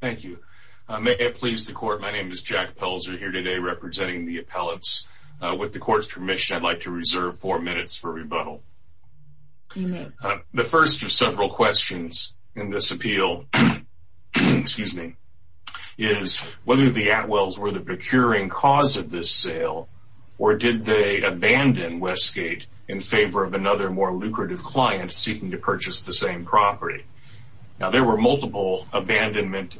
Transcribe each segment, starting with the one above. Thank you. May it please the Court, my name is Jack Pelzer here today representing the appellants. With the Court's permission, I'd like to reserve four minutes for rebuttal. The first of several questions in this appeal is whether the Atwells were the procuring cause of this sale, or did they abandon Westgate in favor of another more lucrative client seeking to purchase the same property? Now there were multiple abandonment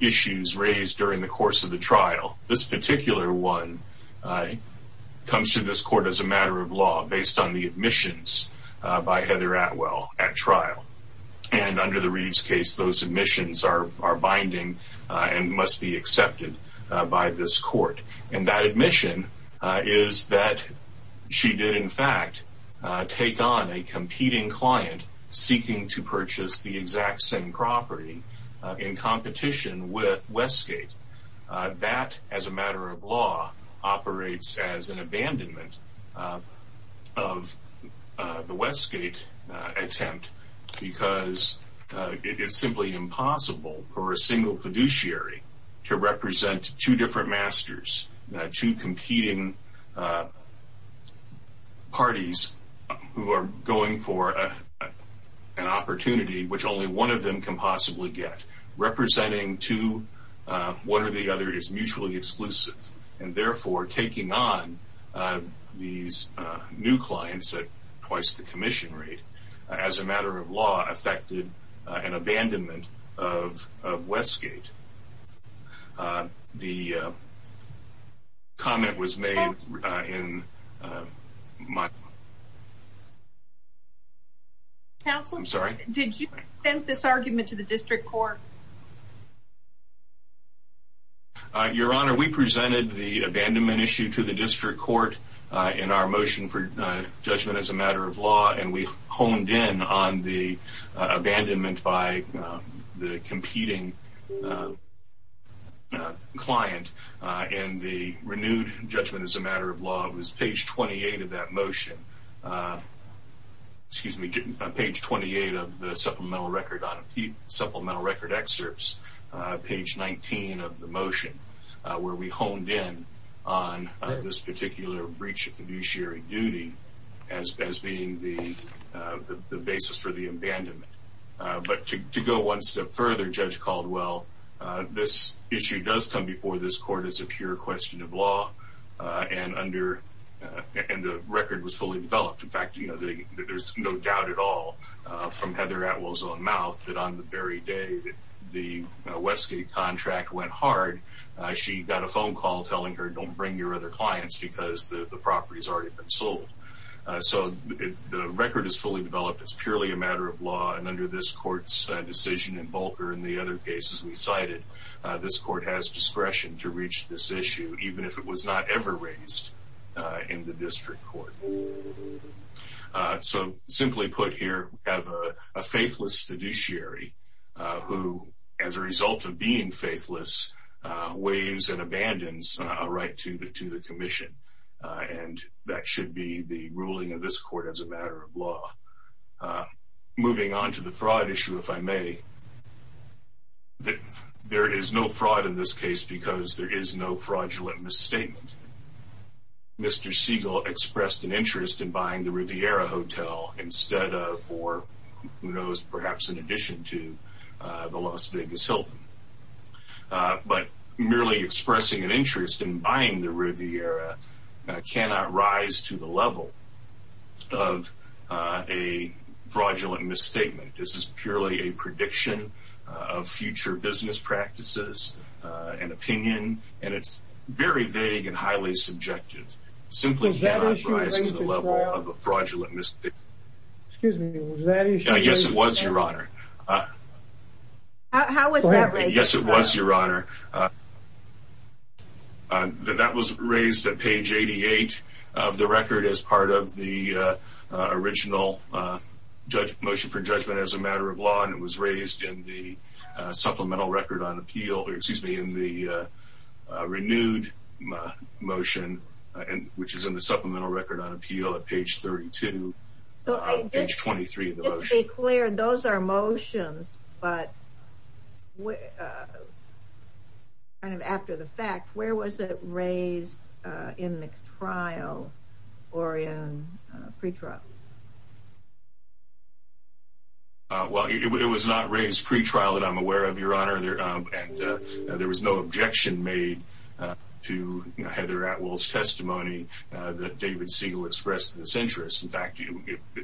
issues raised during the course of the trial. This particular one comes to this Court as a matter of law based on the admissions by Heather Atwell at trial. And under the Reeves case, those admissions are binding and must be accepted by this Court. And that admission is that she did in fact take on a competing client seeking to purchase the exact same property in competition with Westgate. That, as a matter of law, operates as an abandonment of the Westgate attempt because it is simply impossible for a single fiduciary to represent two different masters, two competing parties who are going for an opportunity which only one of them can possibly get. Representing two, one or the other, is mutually exclusive. And therefore, taking on these new clients at twice the commission rate as a matter of law affected an abandonment of Westgate. The comment was made in my... Counselor, did you present this argument to the District Court? Your Honor, we presented the abandonment issue to the District Court in our motion for judgment as a matter of law and we honed in on the abandonment by the competing client in the renewed judgment as a matter of law. It was page 28 of that motion, excuse me, page 28 of the supplemental record excerpts, page 19 of the motion, where we honed in on this particular breach of fiduciary duty as being the basis for the abandonment. But to go one step further, Judge Caldwell, this issue does come before this Court as a pure question of law and under... And the record was fully developed. In fact, there's no doubt at all from Heather Atwell's own mouth that on the very day the Westgate contract went hard, she got a phone call telling her, don't bring your other clients because the property's already been sold. So the record is fully developed. It's purely a matter of law and under this Court's decision in Bulger and the other cases we cited, this Court has discretion to reach this issue even if it was not ever raised in the District Court. So simply put here, we have a faithless fiduciary who, as a result of being faithless, waives and abandons a right to the commission and that should be the ruling of this Court as a matter of law. Moving on to the fraud issue, if I may, there is no fraud in this case because there is no fraudulent misstatement. Mr. Siegel expressed an interest in buying the Riviera Hotel instead of or who knows, perhaps in addition to the Las Vegas Hilton. But merely expressing an interest in buying the Riviera cannot rise to the level of a fraudulent misstatement. This is purely a prediction of future business practices and opinion and it's very vague and highly subjective. Simply cannot rise to the level of a fraudulent misstatement. Excuse me, was that issue raised? Yes, it was, Your Honor. How was that raised? Yes, it was, Your Honor. That was raised at page 88 of the constitutional motion for judgment as a matter of law and it was raised in the supplemental record on appeal, or excuse me, in the renewed motion, which is in the supplemental record on appeal at page 32, page 23 of the motion. Just to be clear, those are motions, but kind of after the fact, where was it raised in the trial or pre-trial? Well, it was not raised pre-trial that I'm aware of, Your Honor. There was no objection made to Heather Atwell's testimony that David Siegel expressed this interest. In fact,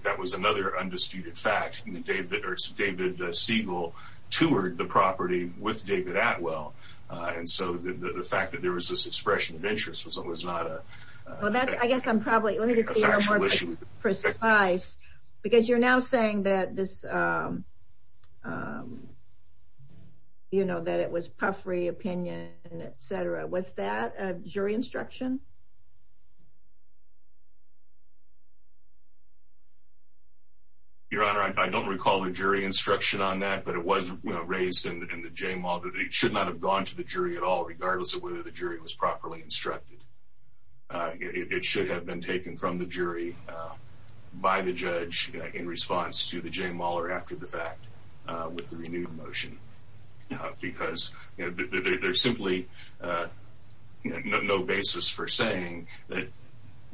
that was another undisputed fact. David Siegel toured the property with David Atwell and so the fact that there was this expression of interest was not a factual issue. Because you're now saying that it was puffery opinion, etc. Was that a jury instruction? Your Honor, I don't recall a jury instruction on that, but it was raised in the JMAW that it should not have gone to the jury at all, regardless of whether the jury was properly instructed. It should have been taken from the jury by the judge in response to the JMAW or after the fact with the renewed motion. Because there's simply no basis for saying that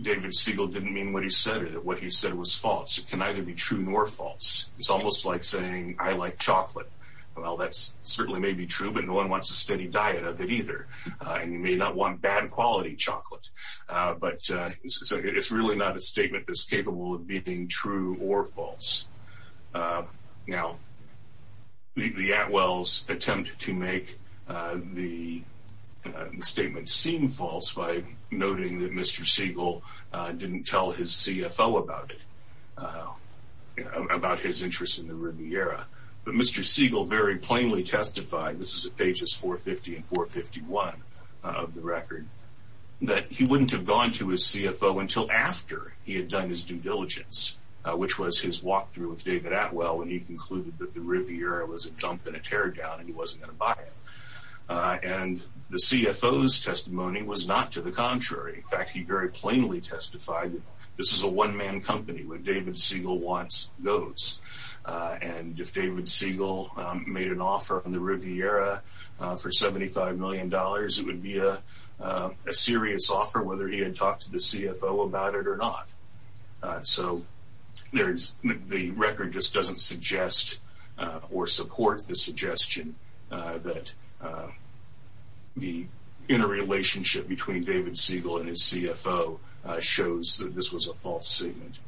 David Siegel didn't mean what he said or that what he said was false. It can neither be true nor false. It's almost like saying I like chocolate. Well, that certainly may be true, but no one wants a steady diet of it either. And you may not want bad quality chocolate. But it's really not a statement that's capable of being true or false. The Atwells attempted to make the statement seem false by noting that Mr. Siegel didn't tell his CFO about it, about his interest in the Riviera. But Mr. Siegel very plainly testified, this is at pages 450 and 451 of the record, that he wouldn't have gone to his CFO until after he had done his due diligence, which was his walkthrough with David Atwell when he concluded that the Riviera was a jump and a teardown and he wasn't going to buy it. And the CFO's testimony was not to the contrary. In fact, he very plainly testified that this is a one-man the Riviera for $75 million. It would be a serious offer whether he had talked to the CFO about it or not. So the record just doesn't suggest or support the suggestion that the interrelationship between David Siegel and his CFO shows that this was a false statement.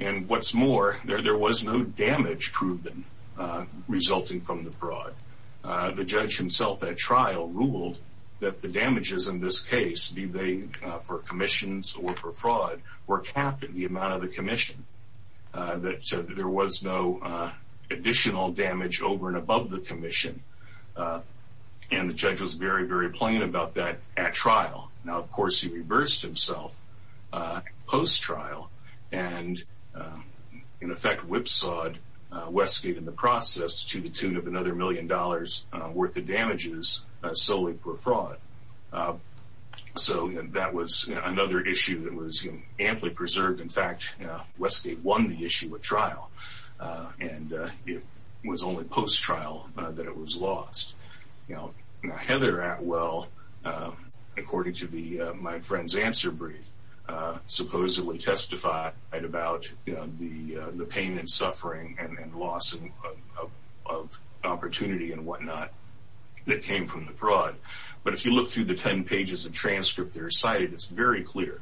And what's more, there was no damage proven resulting from the fraud. The judge himself at trial ruled that the damages in this case, be they for commissions or for fraud, were capped at the amount of the commission. That there was no additional damage over and above the commission. And the judge was very, very plain about that at trial. Now, of course, he reversed himself post-trial and in effect whipsawed Westgate in the process to the tune of another million dollars worth of damages solely for fraud. So that was another issue that was amply preserved. In fact, Westgate won the issue at trial and it was only post-trial that it was lost. Now, Heather Atwell, according to my friend's answer brief, supposedly testified about the pain and suffering and loss of opportunity and whatnot that came from the fraud. But if you look through the ten pages of transcript that are cited, it's very clear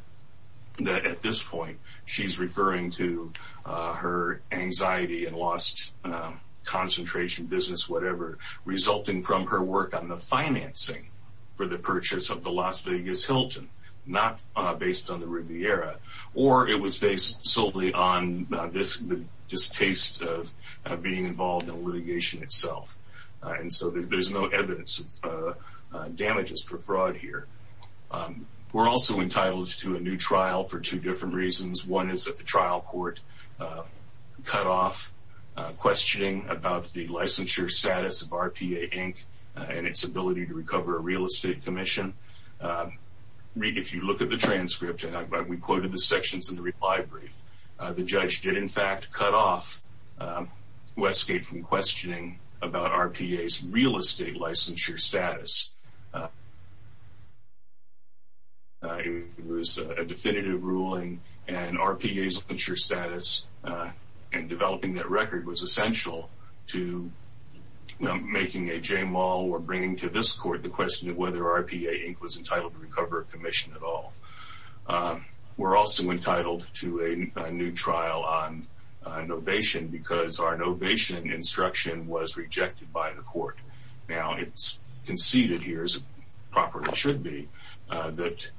that at this point, she's referring to her anxiety and lost concentration, business, whatever resulting from her work on the financing for the purchase of the Las Vegas Hilton, not based on the Riviera. Or it was based solely on this distaste of being involved in litigation itself. And so there's no evidence of damages for fraud here. We're also entitled to a new trial for two different reasons. One is that the trial court cut off questioning about the licensure status of RPA Inc. and its ability to recover a real estate commission. If you look at the transcript, and we quoted the sections in the reply brief, the judge did, in fact, cut off Westgate from questioning about RPA's real estate licensure status. It was a definitive ruling and RPA's licensure status and developing that record was essential to making a j-mal or bringing to this RPA Inc. was entitled to recover a commission at all. We're also entitled to a new trial on novation because our novation instruction was rejected by the court. Now, it's conceded here, as it properly should be, that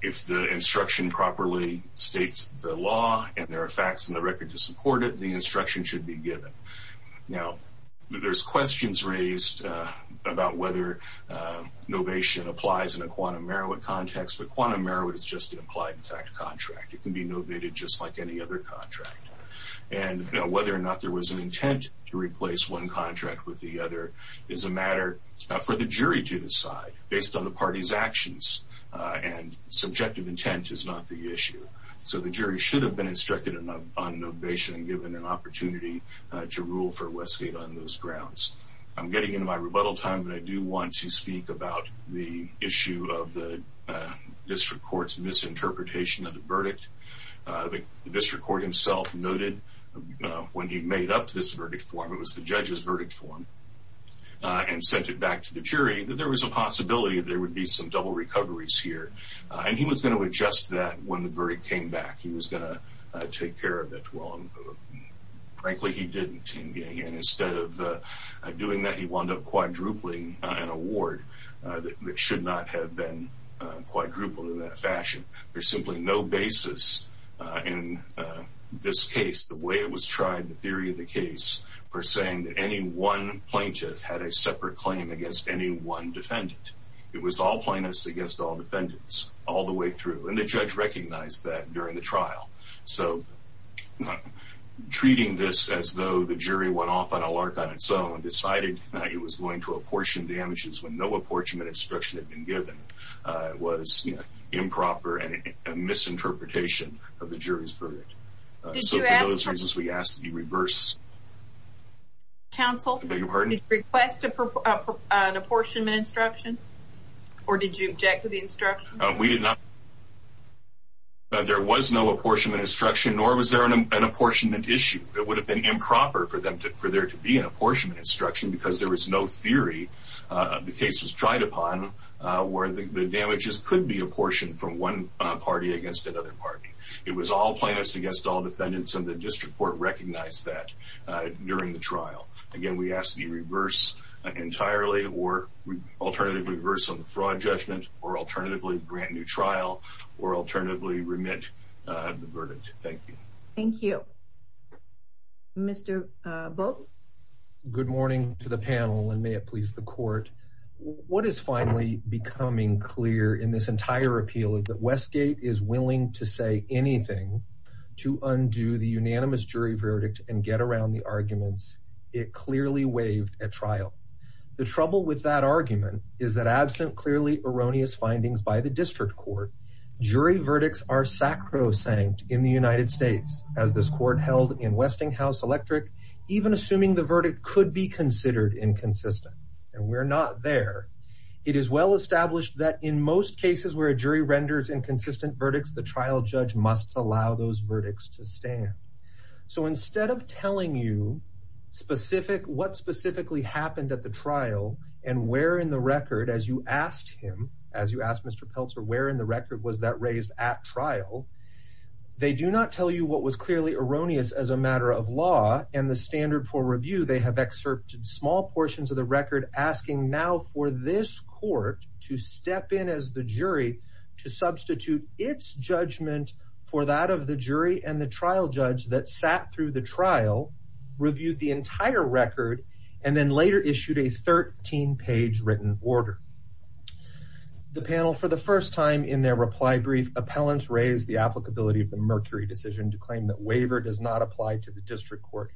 if the instruction properly states the law and there are facts in the record to support it, the instruction should be given. Now, there's questions raised about whether novation applies in a quantum merit context, but quantum merit is just an applied contract. It can be novated just like any other contract. And whether or not there was an intent to replace one contract with the other is a matter for the jury to decide based on the party's actions and subjective intent is not the issue. So the jury should have been instructed on novation and given an opportunity to rule for Westgate on those grounds. I'm getting into my rebuttal time, but I do want to speak about the issue of the district court's misinterpretation of the verdict. The district court himself noted when he made up this verdict form, it was the judge's verdict form, and sent it back to the jury, that there was a possibility there would be some double recoveries here. And he was going to adjust that when the verdict came back. He was going to take care of it. Well, frankly, he didn't. And instead of doing that, he wound up quadrupling an award that should not have been quadrupled in that fashion. There's simply no basis in this case, the way it was tried, the theory of the case, for saying that any one plaintiff had a separate claim against any one defendant. It was all plaintiffs against all defendants all the way through. And the judge recognized that during the trial. So, treating this as though the jury went off on a lark on its own and decided it was going to apportion damages when no apportionment instruction had been given was improper and a misinterpretation of the jury's verdict. So for those reasons, we ask that you reverse counsel. Did you request an apportionment instruction? Or did you object to the instruction? We did not. There was no apportionment instruction nor was there an apportionment issue. It would have been improper for there to be an apportionment instruction because there was no theory the case was tried upon where the damages could be apportioned from one party against another party. It was all plaintiffs against all defendants and the district court recognized that during the trial. Again, we ask that you reverse entirely or alternatively reverse on the fraud judgment or alternatively grant new trial or alternatively remit the verdict. Thank you. Thank you. Mr. Vogt? Good morning to the panel and may it please the court. What is finally becoming clear in this entire appeal is that Westgate is willing to say anything to undo the unanimous jury verdict and get around the arguments it clearly waived at trial. The trouble with that argument is that absent clearly erroneous findings by the district court, jury verdicts are sacrosanct in the United States as this court held in Westinghouse Electric even assuming the verdict could be considered inconsistent. And we're not there. It is well established that in most cases where a jury renders inconsistent verdicts, the trial judge must allow those verdicts to stand. So instead of telling you what specifically happened at the trial and where in the record as you asked him, as you asked Mr. Pelzer, where in the record was that raised at trial, they do not tell you what was clearly erroneous as a matter of law and the standard for review. They have excerpted small portions of the record asking now for this court to step in as the jury to substitute its judgment for that of the jury and the trial judge that sat through the trial, reviewed the entire record, and then later issued a 13-page written order. The panel for the first time in their reply brief, appellants raised the applicability of the Mercury decision to claim that waiver does not apply to the district court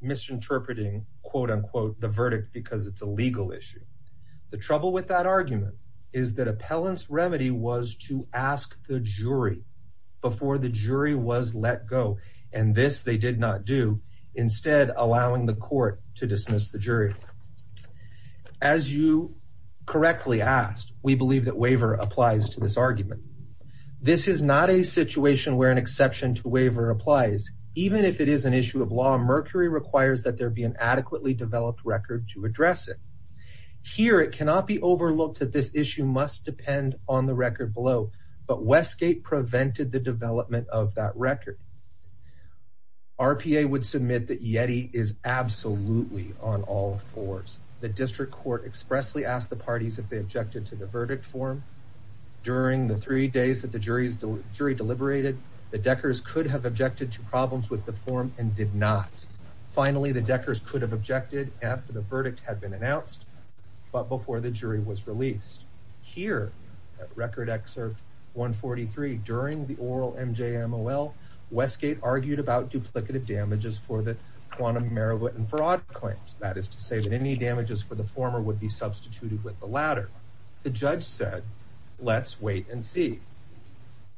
misinterpreting quote-unquote the verdict because it's a legal issue. The trouble with that argument is that appellant's remedy was to ask the jury before the jury was let go, and this they did not do, instead allowing the court to dismiss the jury. As you correctly asked, we believe that waiver applies to this argument. This is not a situation where an exception to waiver applies. Even if it is an issue of law, Mercury requires that there be an adequately developed record to address it. Here it cannot be overlooked that this issue must depend on the record below, but Westgate prevented the development of that record. RPA would submit that YETI is absolutely on all fours. The district court expressly asked the parties if they objected to the verdict form. During the three days that the jury deliberated, the Deckers could have objected to problems with the form and did not. Finally, the Deckers could have objected after the verdict had been announced, but before the jury was released. Here, at Record Excerpt 143, during the oral MJMOL, Westgate argued about duplicative damages for the quantum Meribot and Farad claims. That is to say that any damages for the former would be substituted with the latter. The judge said, let's wait and see.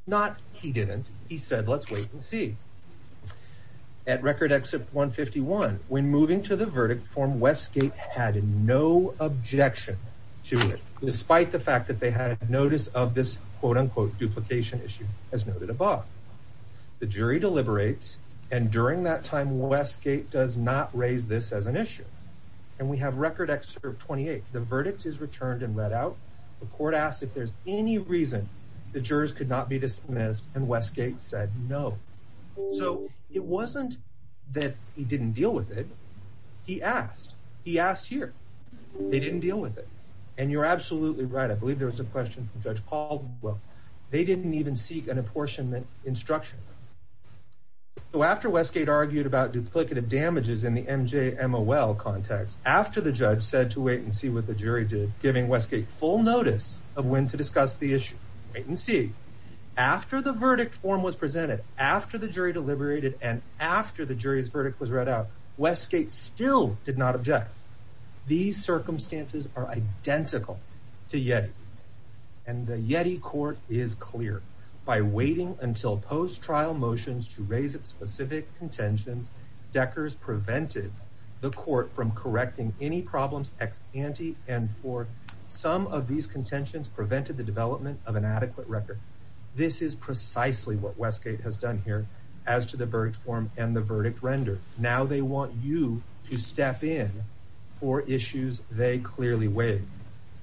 Not he didn't. He said, let's wait and see. At Record Excerpt 151, when moving to the verdict form, Westgate had no objection to it, despite the fact that they had notice of this quote-unquote duplication issue, as noted above. The jury deliberates, and during that time, Westgate does not raise this as an issue. And we have Record Excerpt 28. The verdict is returned and read out. The court asked if there's any reason the jurors could not be dismissed, and Westgate said no. So, it wasn't that he didn't deal with it. He asked. He asked here. They didn't deal with it. And you're absolutely right. I believe there was a question from Judge Caldwell. They didn't even seek an apportionment instruction. So, after Westgate argued about duplicative damages in the MJMOL context, after the judge said to wait and see what the jury did, giving Westgate full notice of when to discuss the issue. Wait and see. After the verdict form was presented, after the jury deliberated, and after the jury's verdict was read out, Westgate still did not object. These circumstances are identical to YETI. And the YETI court is clear. By waiting until post-trial motions to raise its specific contentions, Deckers prevented the court from correcting any problems ex ante, and for some of these contentions, prevented the development of an adequate record. This is precisely what Westgate has done here, as to the verdict form and the verdict render. Now, they want you to step in for issues they clearly waive.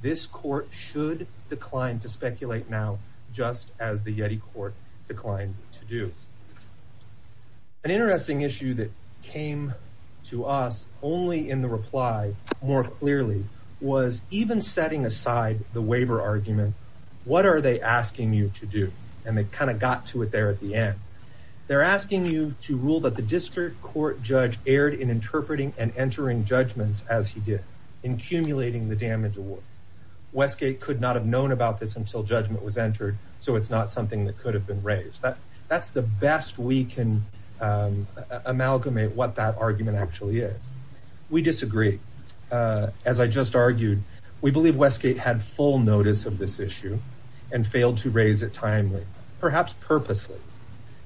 This court should decline to speculate now, just as the YETI court declined to do. An interesting issue that came to us only in the reply, more clearly, was even setting aside the waiver argument. What are they asking you to do? And they kind of got to it there at the end. They're asking you to rule that the district court judge erred in interpreting and entering judgments as he did, accumulating the damage award. Westgate could not have known about this until judgment was entered, so it's not something that could have been raised. That's the best we can amalgamate what that argument actually is. We disagree. As I just argued, we believe Westgate had full notice of this issue and failed to raise it timely, perhaps purposely.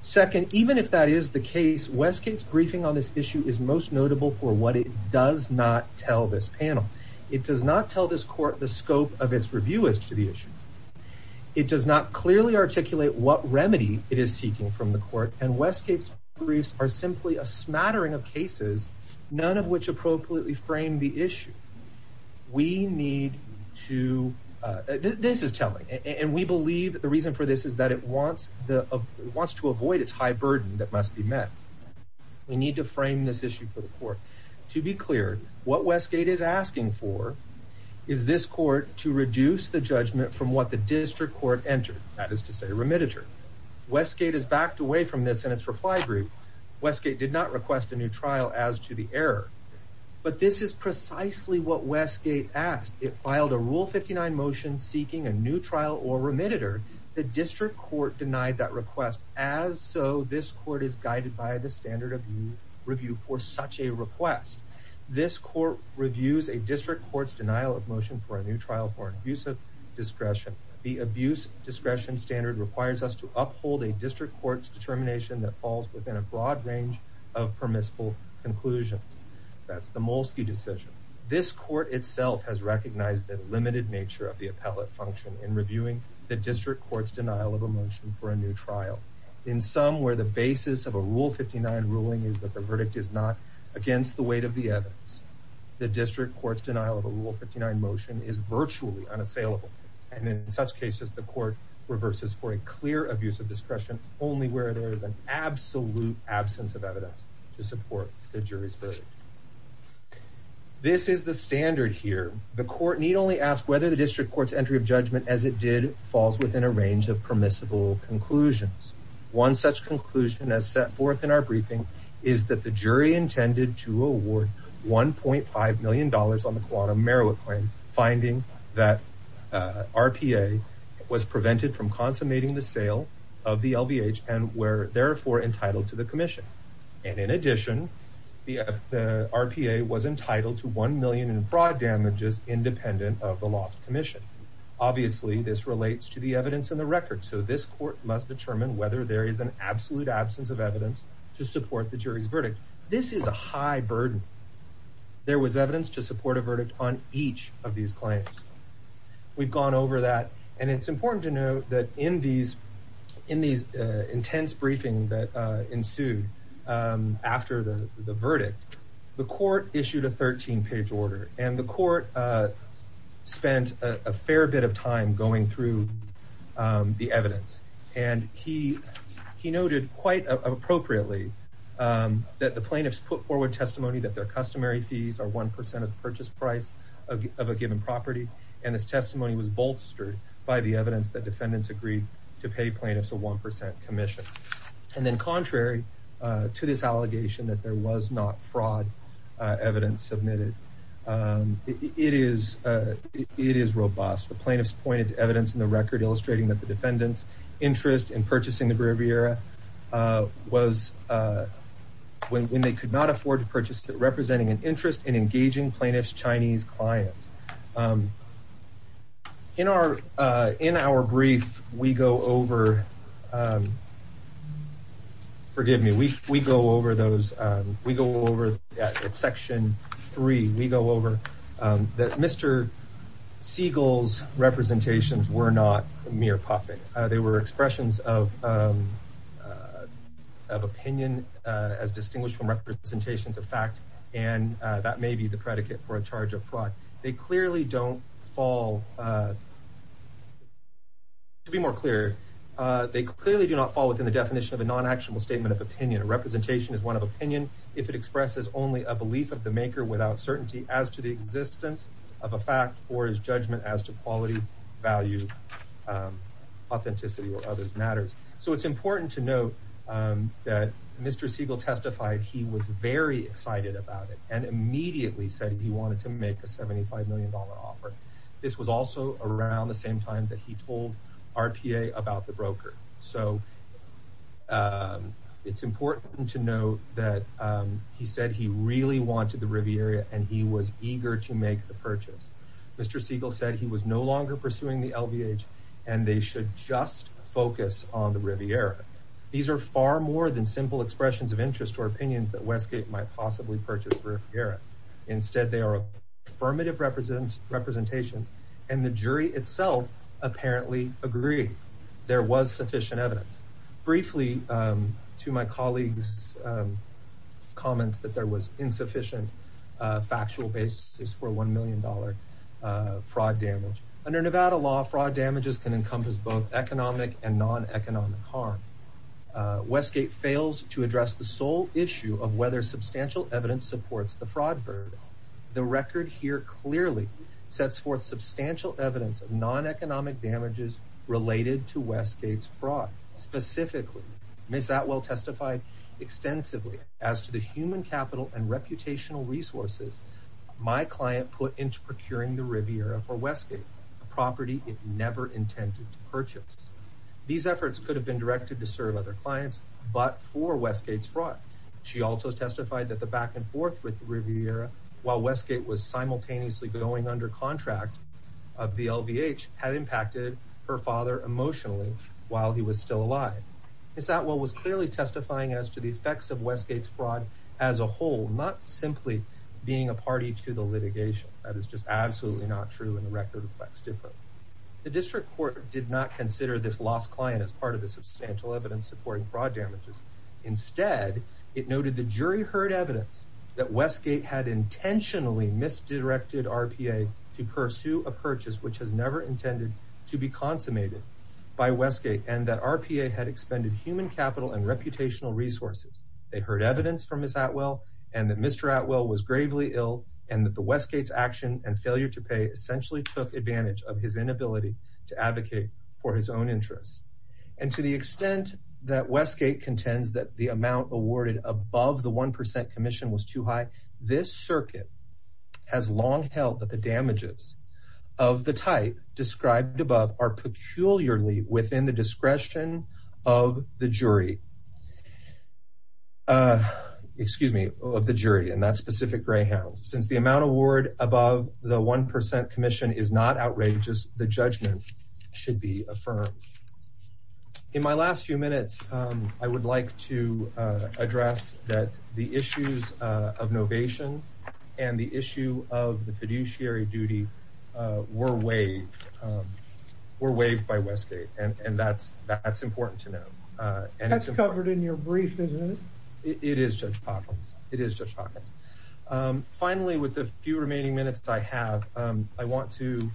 Second, even if that is the case, Westgate's briefing on this issue is most notable for what it does not tell this panel. It does not tell this court the scope of its review as to the issue. It does not clearly articulate what remedy it is seeking from the court and Westgate's briefs are simply a smattering of cases, none of which appropriately frame the issue. This is telling, and we believe the reason for this is that it wants to avoid its high burden that must be met. We need to frame this issue for the court. To be clear, what Westgate is asking for is this court to reduce the judgment from what the district court entered, that is to say, a remediator. Westgate has backed away from this in its reply group. Westgate did not request a new trial as to the error, but this is precisely what Westgate asked. It filed a Rule 59 motion seeking a new trial. The district court denied that request as so this court is guided by the standard of review for such a request. This court reviews a district court's denial of motion for a new trial for an abusive discretion. The abuse discretion standard requires us to uphold a district court's determination that falls within a broad range of permissible conclusions. That's the Molsky decision. This court itself has recognized the limited nature of the appellate function in reviewing the district court's denial of a motion for a new trial in some where the basis of a Rule 59 ruling is that the verdict is not against the weight of the evidence. The district court's denial of a Rule 59 motion is virtually unassailable, and in such cases, the court reverses for a clear abuse of discretion only where there is an absolute absence of evidence to support the jury's verdict. This is the standard here. The court need only ask whether the district court's entry of judgment as it did falls within a range of permissible conclusions. One such conclusion as set forth in our briefing is that the jury intended to award 1.5 million dollars on the Kuwata Meroweth claim, finding that RPA was prevented from consummating the sale of the LVH and were therefore entitled to the commission. And in addition, the RPA was entitled to one million fraud damages independent of the loft commission. Obviously this relates to the evidence in the record, so this court must determine whether there is an absolute absence of evidence to support the jury's verdict. This is a high burden. There was evidence to support a verdict on each of these claims. We've gone over that, and it's important to note that in these intense briefings that ensued after the verdict, the court issued a 13 page order, and the court spent a fair bit of time going through the evidence and he noted quite appropriately that the plaintiffs put forward testimony that their customary fees are 1% of the purchase price of a given property, and this testimony was bolstered by the evidence that defendants agreed to pay plaintiffs a 1% commission. And then contrary to this allegation that there was not fraud evidence submitted, it is robust. The plaintiffs pointed to evidence in the record illustrating that the defendants interest in purchasing the Riviera was when they could not afford to purchase representing an interest in engaging plaintiffs Chinese clients. In our brief, we go over, forgive me, we go over section three, we go over that Mr. Siegel's representations were not mere puppet. They were expressions of opinion as distinguished from representations of fact, and that may be the predicate for a charge of fraud. They clearly don't fall to be more clear, they clearly do not fall within the definition of a non-actionable statement of opinion. A representation is one of opinion if it expresses only a belief of the maker without certainty as to the existence of a fact or his judgment as to quality, value, authenticity, or other matters. So it's important to note that Mr. Siegel testified he was very excited about it, and immediately said he wanted to make a $75 million offer. This was also around the same time that he told RPA about the broker. So it's important to note that he said he really wanted the Riviera and he was eager to make the purchase. Mr. Siegel said he was no longer pursuing the LVH and they should just focus on the Riviera. These are far more than simple expressions of interest or opinions that Westgate might possibly purchase for Riviera. Instead, they are affirmative representations, and the jury itself apparently agreed there was sufficient evidence. Briefly, to my colleague's comments that there was insufficient factual basis for $1 million fraud damage. Under Nevada law, fraud damages can encompass both economic and non-economic harm. Westgate fails to address the sole issue of whether substantial evidence supports the fraud verdict. The record here clearly sets forth substantial evidence of non-economic damages related to Westgate's fraud. Specifically, Ms. Atwell testified extensively as to the human capital and reputational resources my client put into procuring the Riviera for Westgate, a property it never intended to purchase. These efforts could have been directed to serve other clients, but for Westgate's fraud. She also testified that the back and forth with the Riviera, while Westgate was of the LVH, had impacted her father emotionally while he was still alive. Ms. Atwell was clearly testifying as to the effects of Westgate's fraud as a whole, not simply being a party to the litigation. That is just absolutely not true, and the record reflects differently. The district court did not consider this lost client as part of the substantial evidence supporting fraud damages. Instead, it noted the jury heard evidence that Westgate had intentionally misdirected RPA to pursue a purchase which was never intended to be consummated by Westgate, and that RPA had expended human capital and reputational resources. They heard evidence from Ms. Atwell, and that Mr. Atwell was gravely ill, and that Westgate's action and failure to pay essentially took advantage of his inability to advocate for his own interests. And to the extent that Westgate contends that the amount awarded above the 1% commission was too high, this long held that the damages of the type described above are peculiarly within the discretion of the jury. Excuse me, of the jury, and that's Pacific Greyhound. Since the amount awarded above the 1% commission is not outrageous, the judgment should be affirmed. In my last few minutes, I would like to address that the issues of novation and the issue of the fiduciary duty were waived by Westgate, and that's important to know. That's covered in your brief, isn't it? It is, Judge Hopkins. It is, Judge Hopkins. Finally, with the few remaining minutes I have, I want to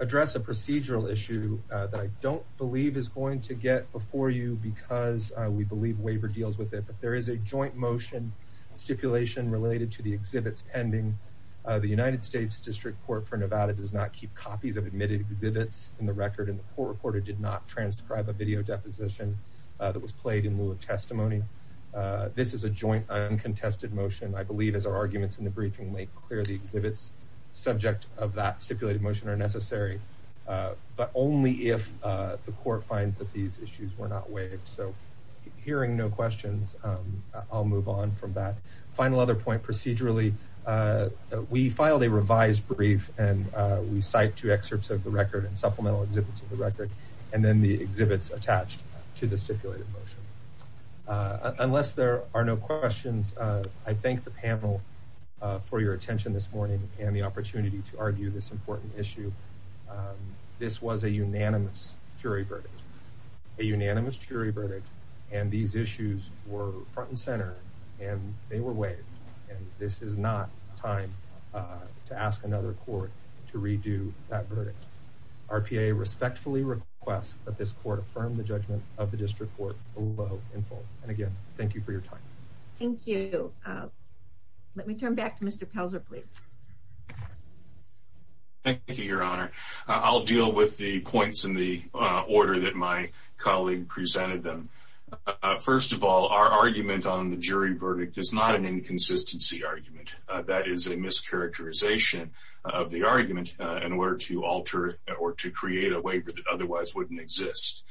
address a procedural issue that I don't believe is going to get before you because we believe waiver deals with it, but there is a joint motion stipulation related to the exhibits pending. The United States District Court for Nevada does not keep copies of admitted exhibits in the record and the court reporter did not transcribe a video deposition that was played in lieu of testimony. This is a joint uncontested motion. I believe, as our arguments in the briefing make clear, the exhibits subject of that stipulated motion are necessary, but only if the court finds that these issues were not waived. So hearing no questions, I'll move on from that. Final other point procedurally, we filed a revised brief and we cite two excerpts of the record and supplemental exhibits of the record and then the exhibits attached to the stipulated motion. Unless there are no questions, I thank the panel for your attention this morning and the opportunity to argue this important issue. This was a unanimous jury verdict. A unanimous jury were front and center and they were waived and this is not time to ask another court to redo that verdict. RPA respectfully requests that this court affirm the judgment of the District Court below and again, thank you for your time. Thank you. Let me turn back to Mr. Pelzer, please. Thank you, Your Honor. I'll deal with the points in the order that my colleague presented them. First of all, our argument on the jury verdict is not an inconsistency argument. That is a mischaracterization of the argument in order to alter or to create a waiver that otherwise wouldn't exist.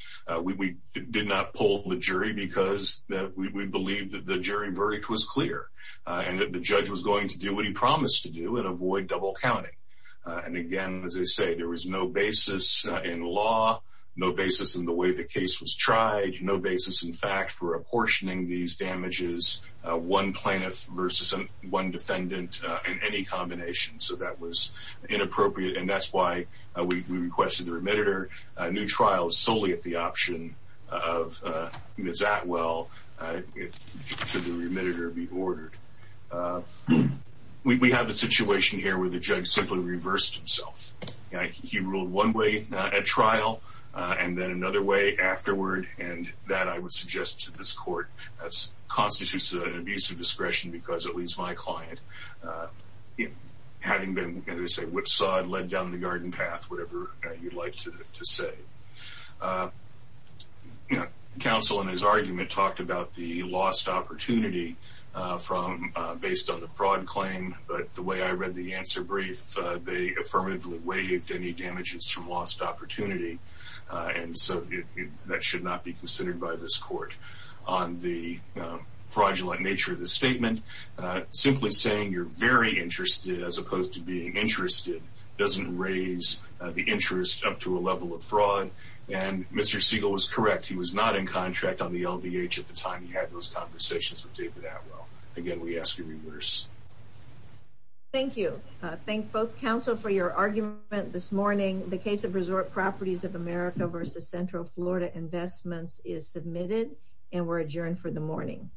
We did not pull the jury because we believed that the jury verdict was clear and that the judge was going to do what he promised to do and avoid double counting. And again, as I say, there was no basis in law, no basis in the way the case was tried, no basis in fact for apportioning these damages one plaintiff versus one defendant in any combination. So that was inappropriate and that's why we requested the remitter. A new trial is solely at the option of Ms. Atwell, should the remitter be ordered. We have a situation here where the judge simply reversed himself. He ruled one way at trial and then another way afterward and that I would suggest to this court constitutes an abuse of discretion because at least my client, having been whipsawed, led down the garden path, whatever you'd like to say. Counsel in his argument talked about the lost opportunity based on the fraud claim but the way I read the answer brief, they affirmatively waived any lost opportunity and so that should not be considered by this court on the fraudulent nature of the statement. Simply saying you're very interested as opposed to being interested doesn't raise the interest up to a level of fraud and Mr. Siegel was correct. He was not in contract on the LVH at the time he had those conversations with David Atwell. Again, we ask you reverse. Thank you. Thank both counsel for your argument this morning. The case of Resort Properties of America versus Central Florida Investments is submitted and we're adjourned for the morning.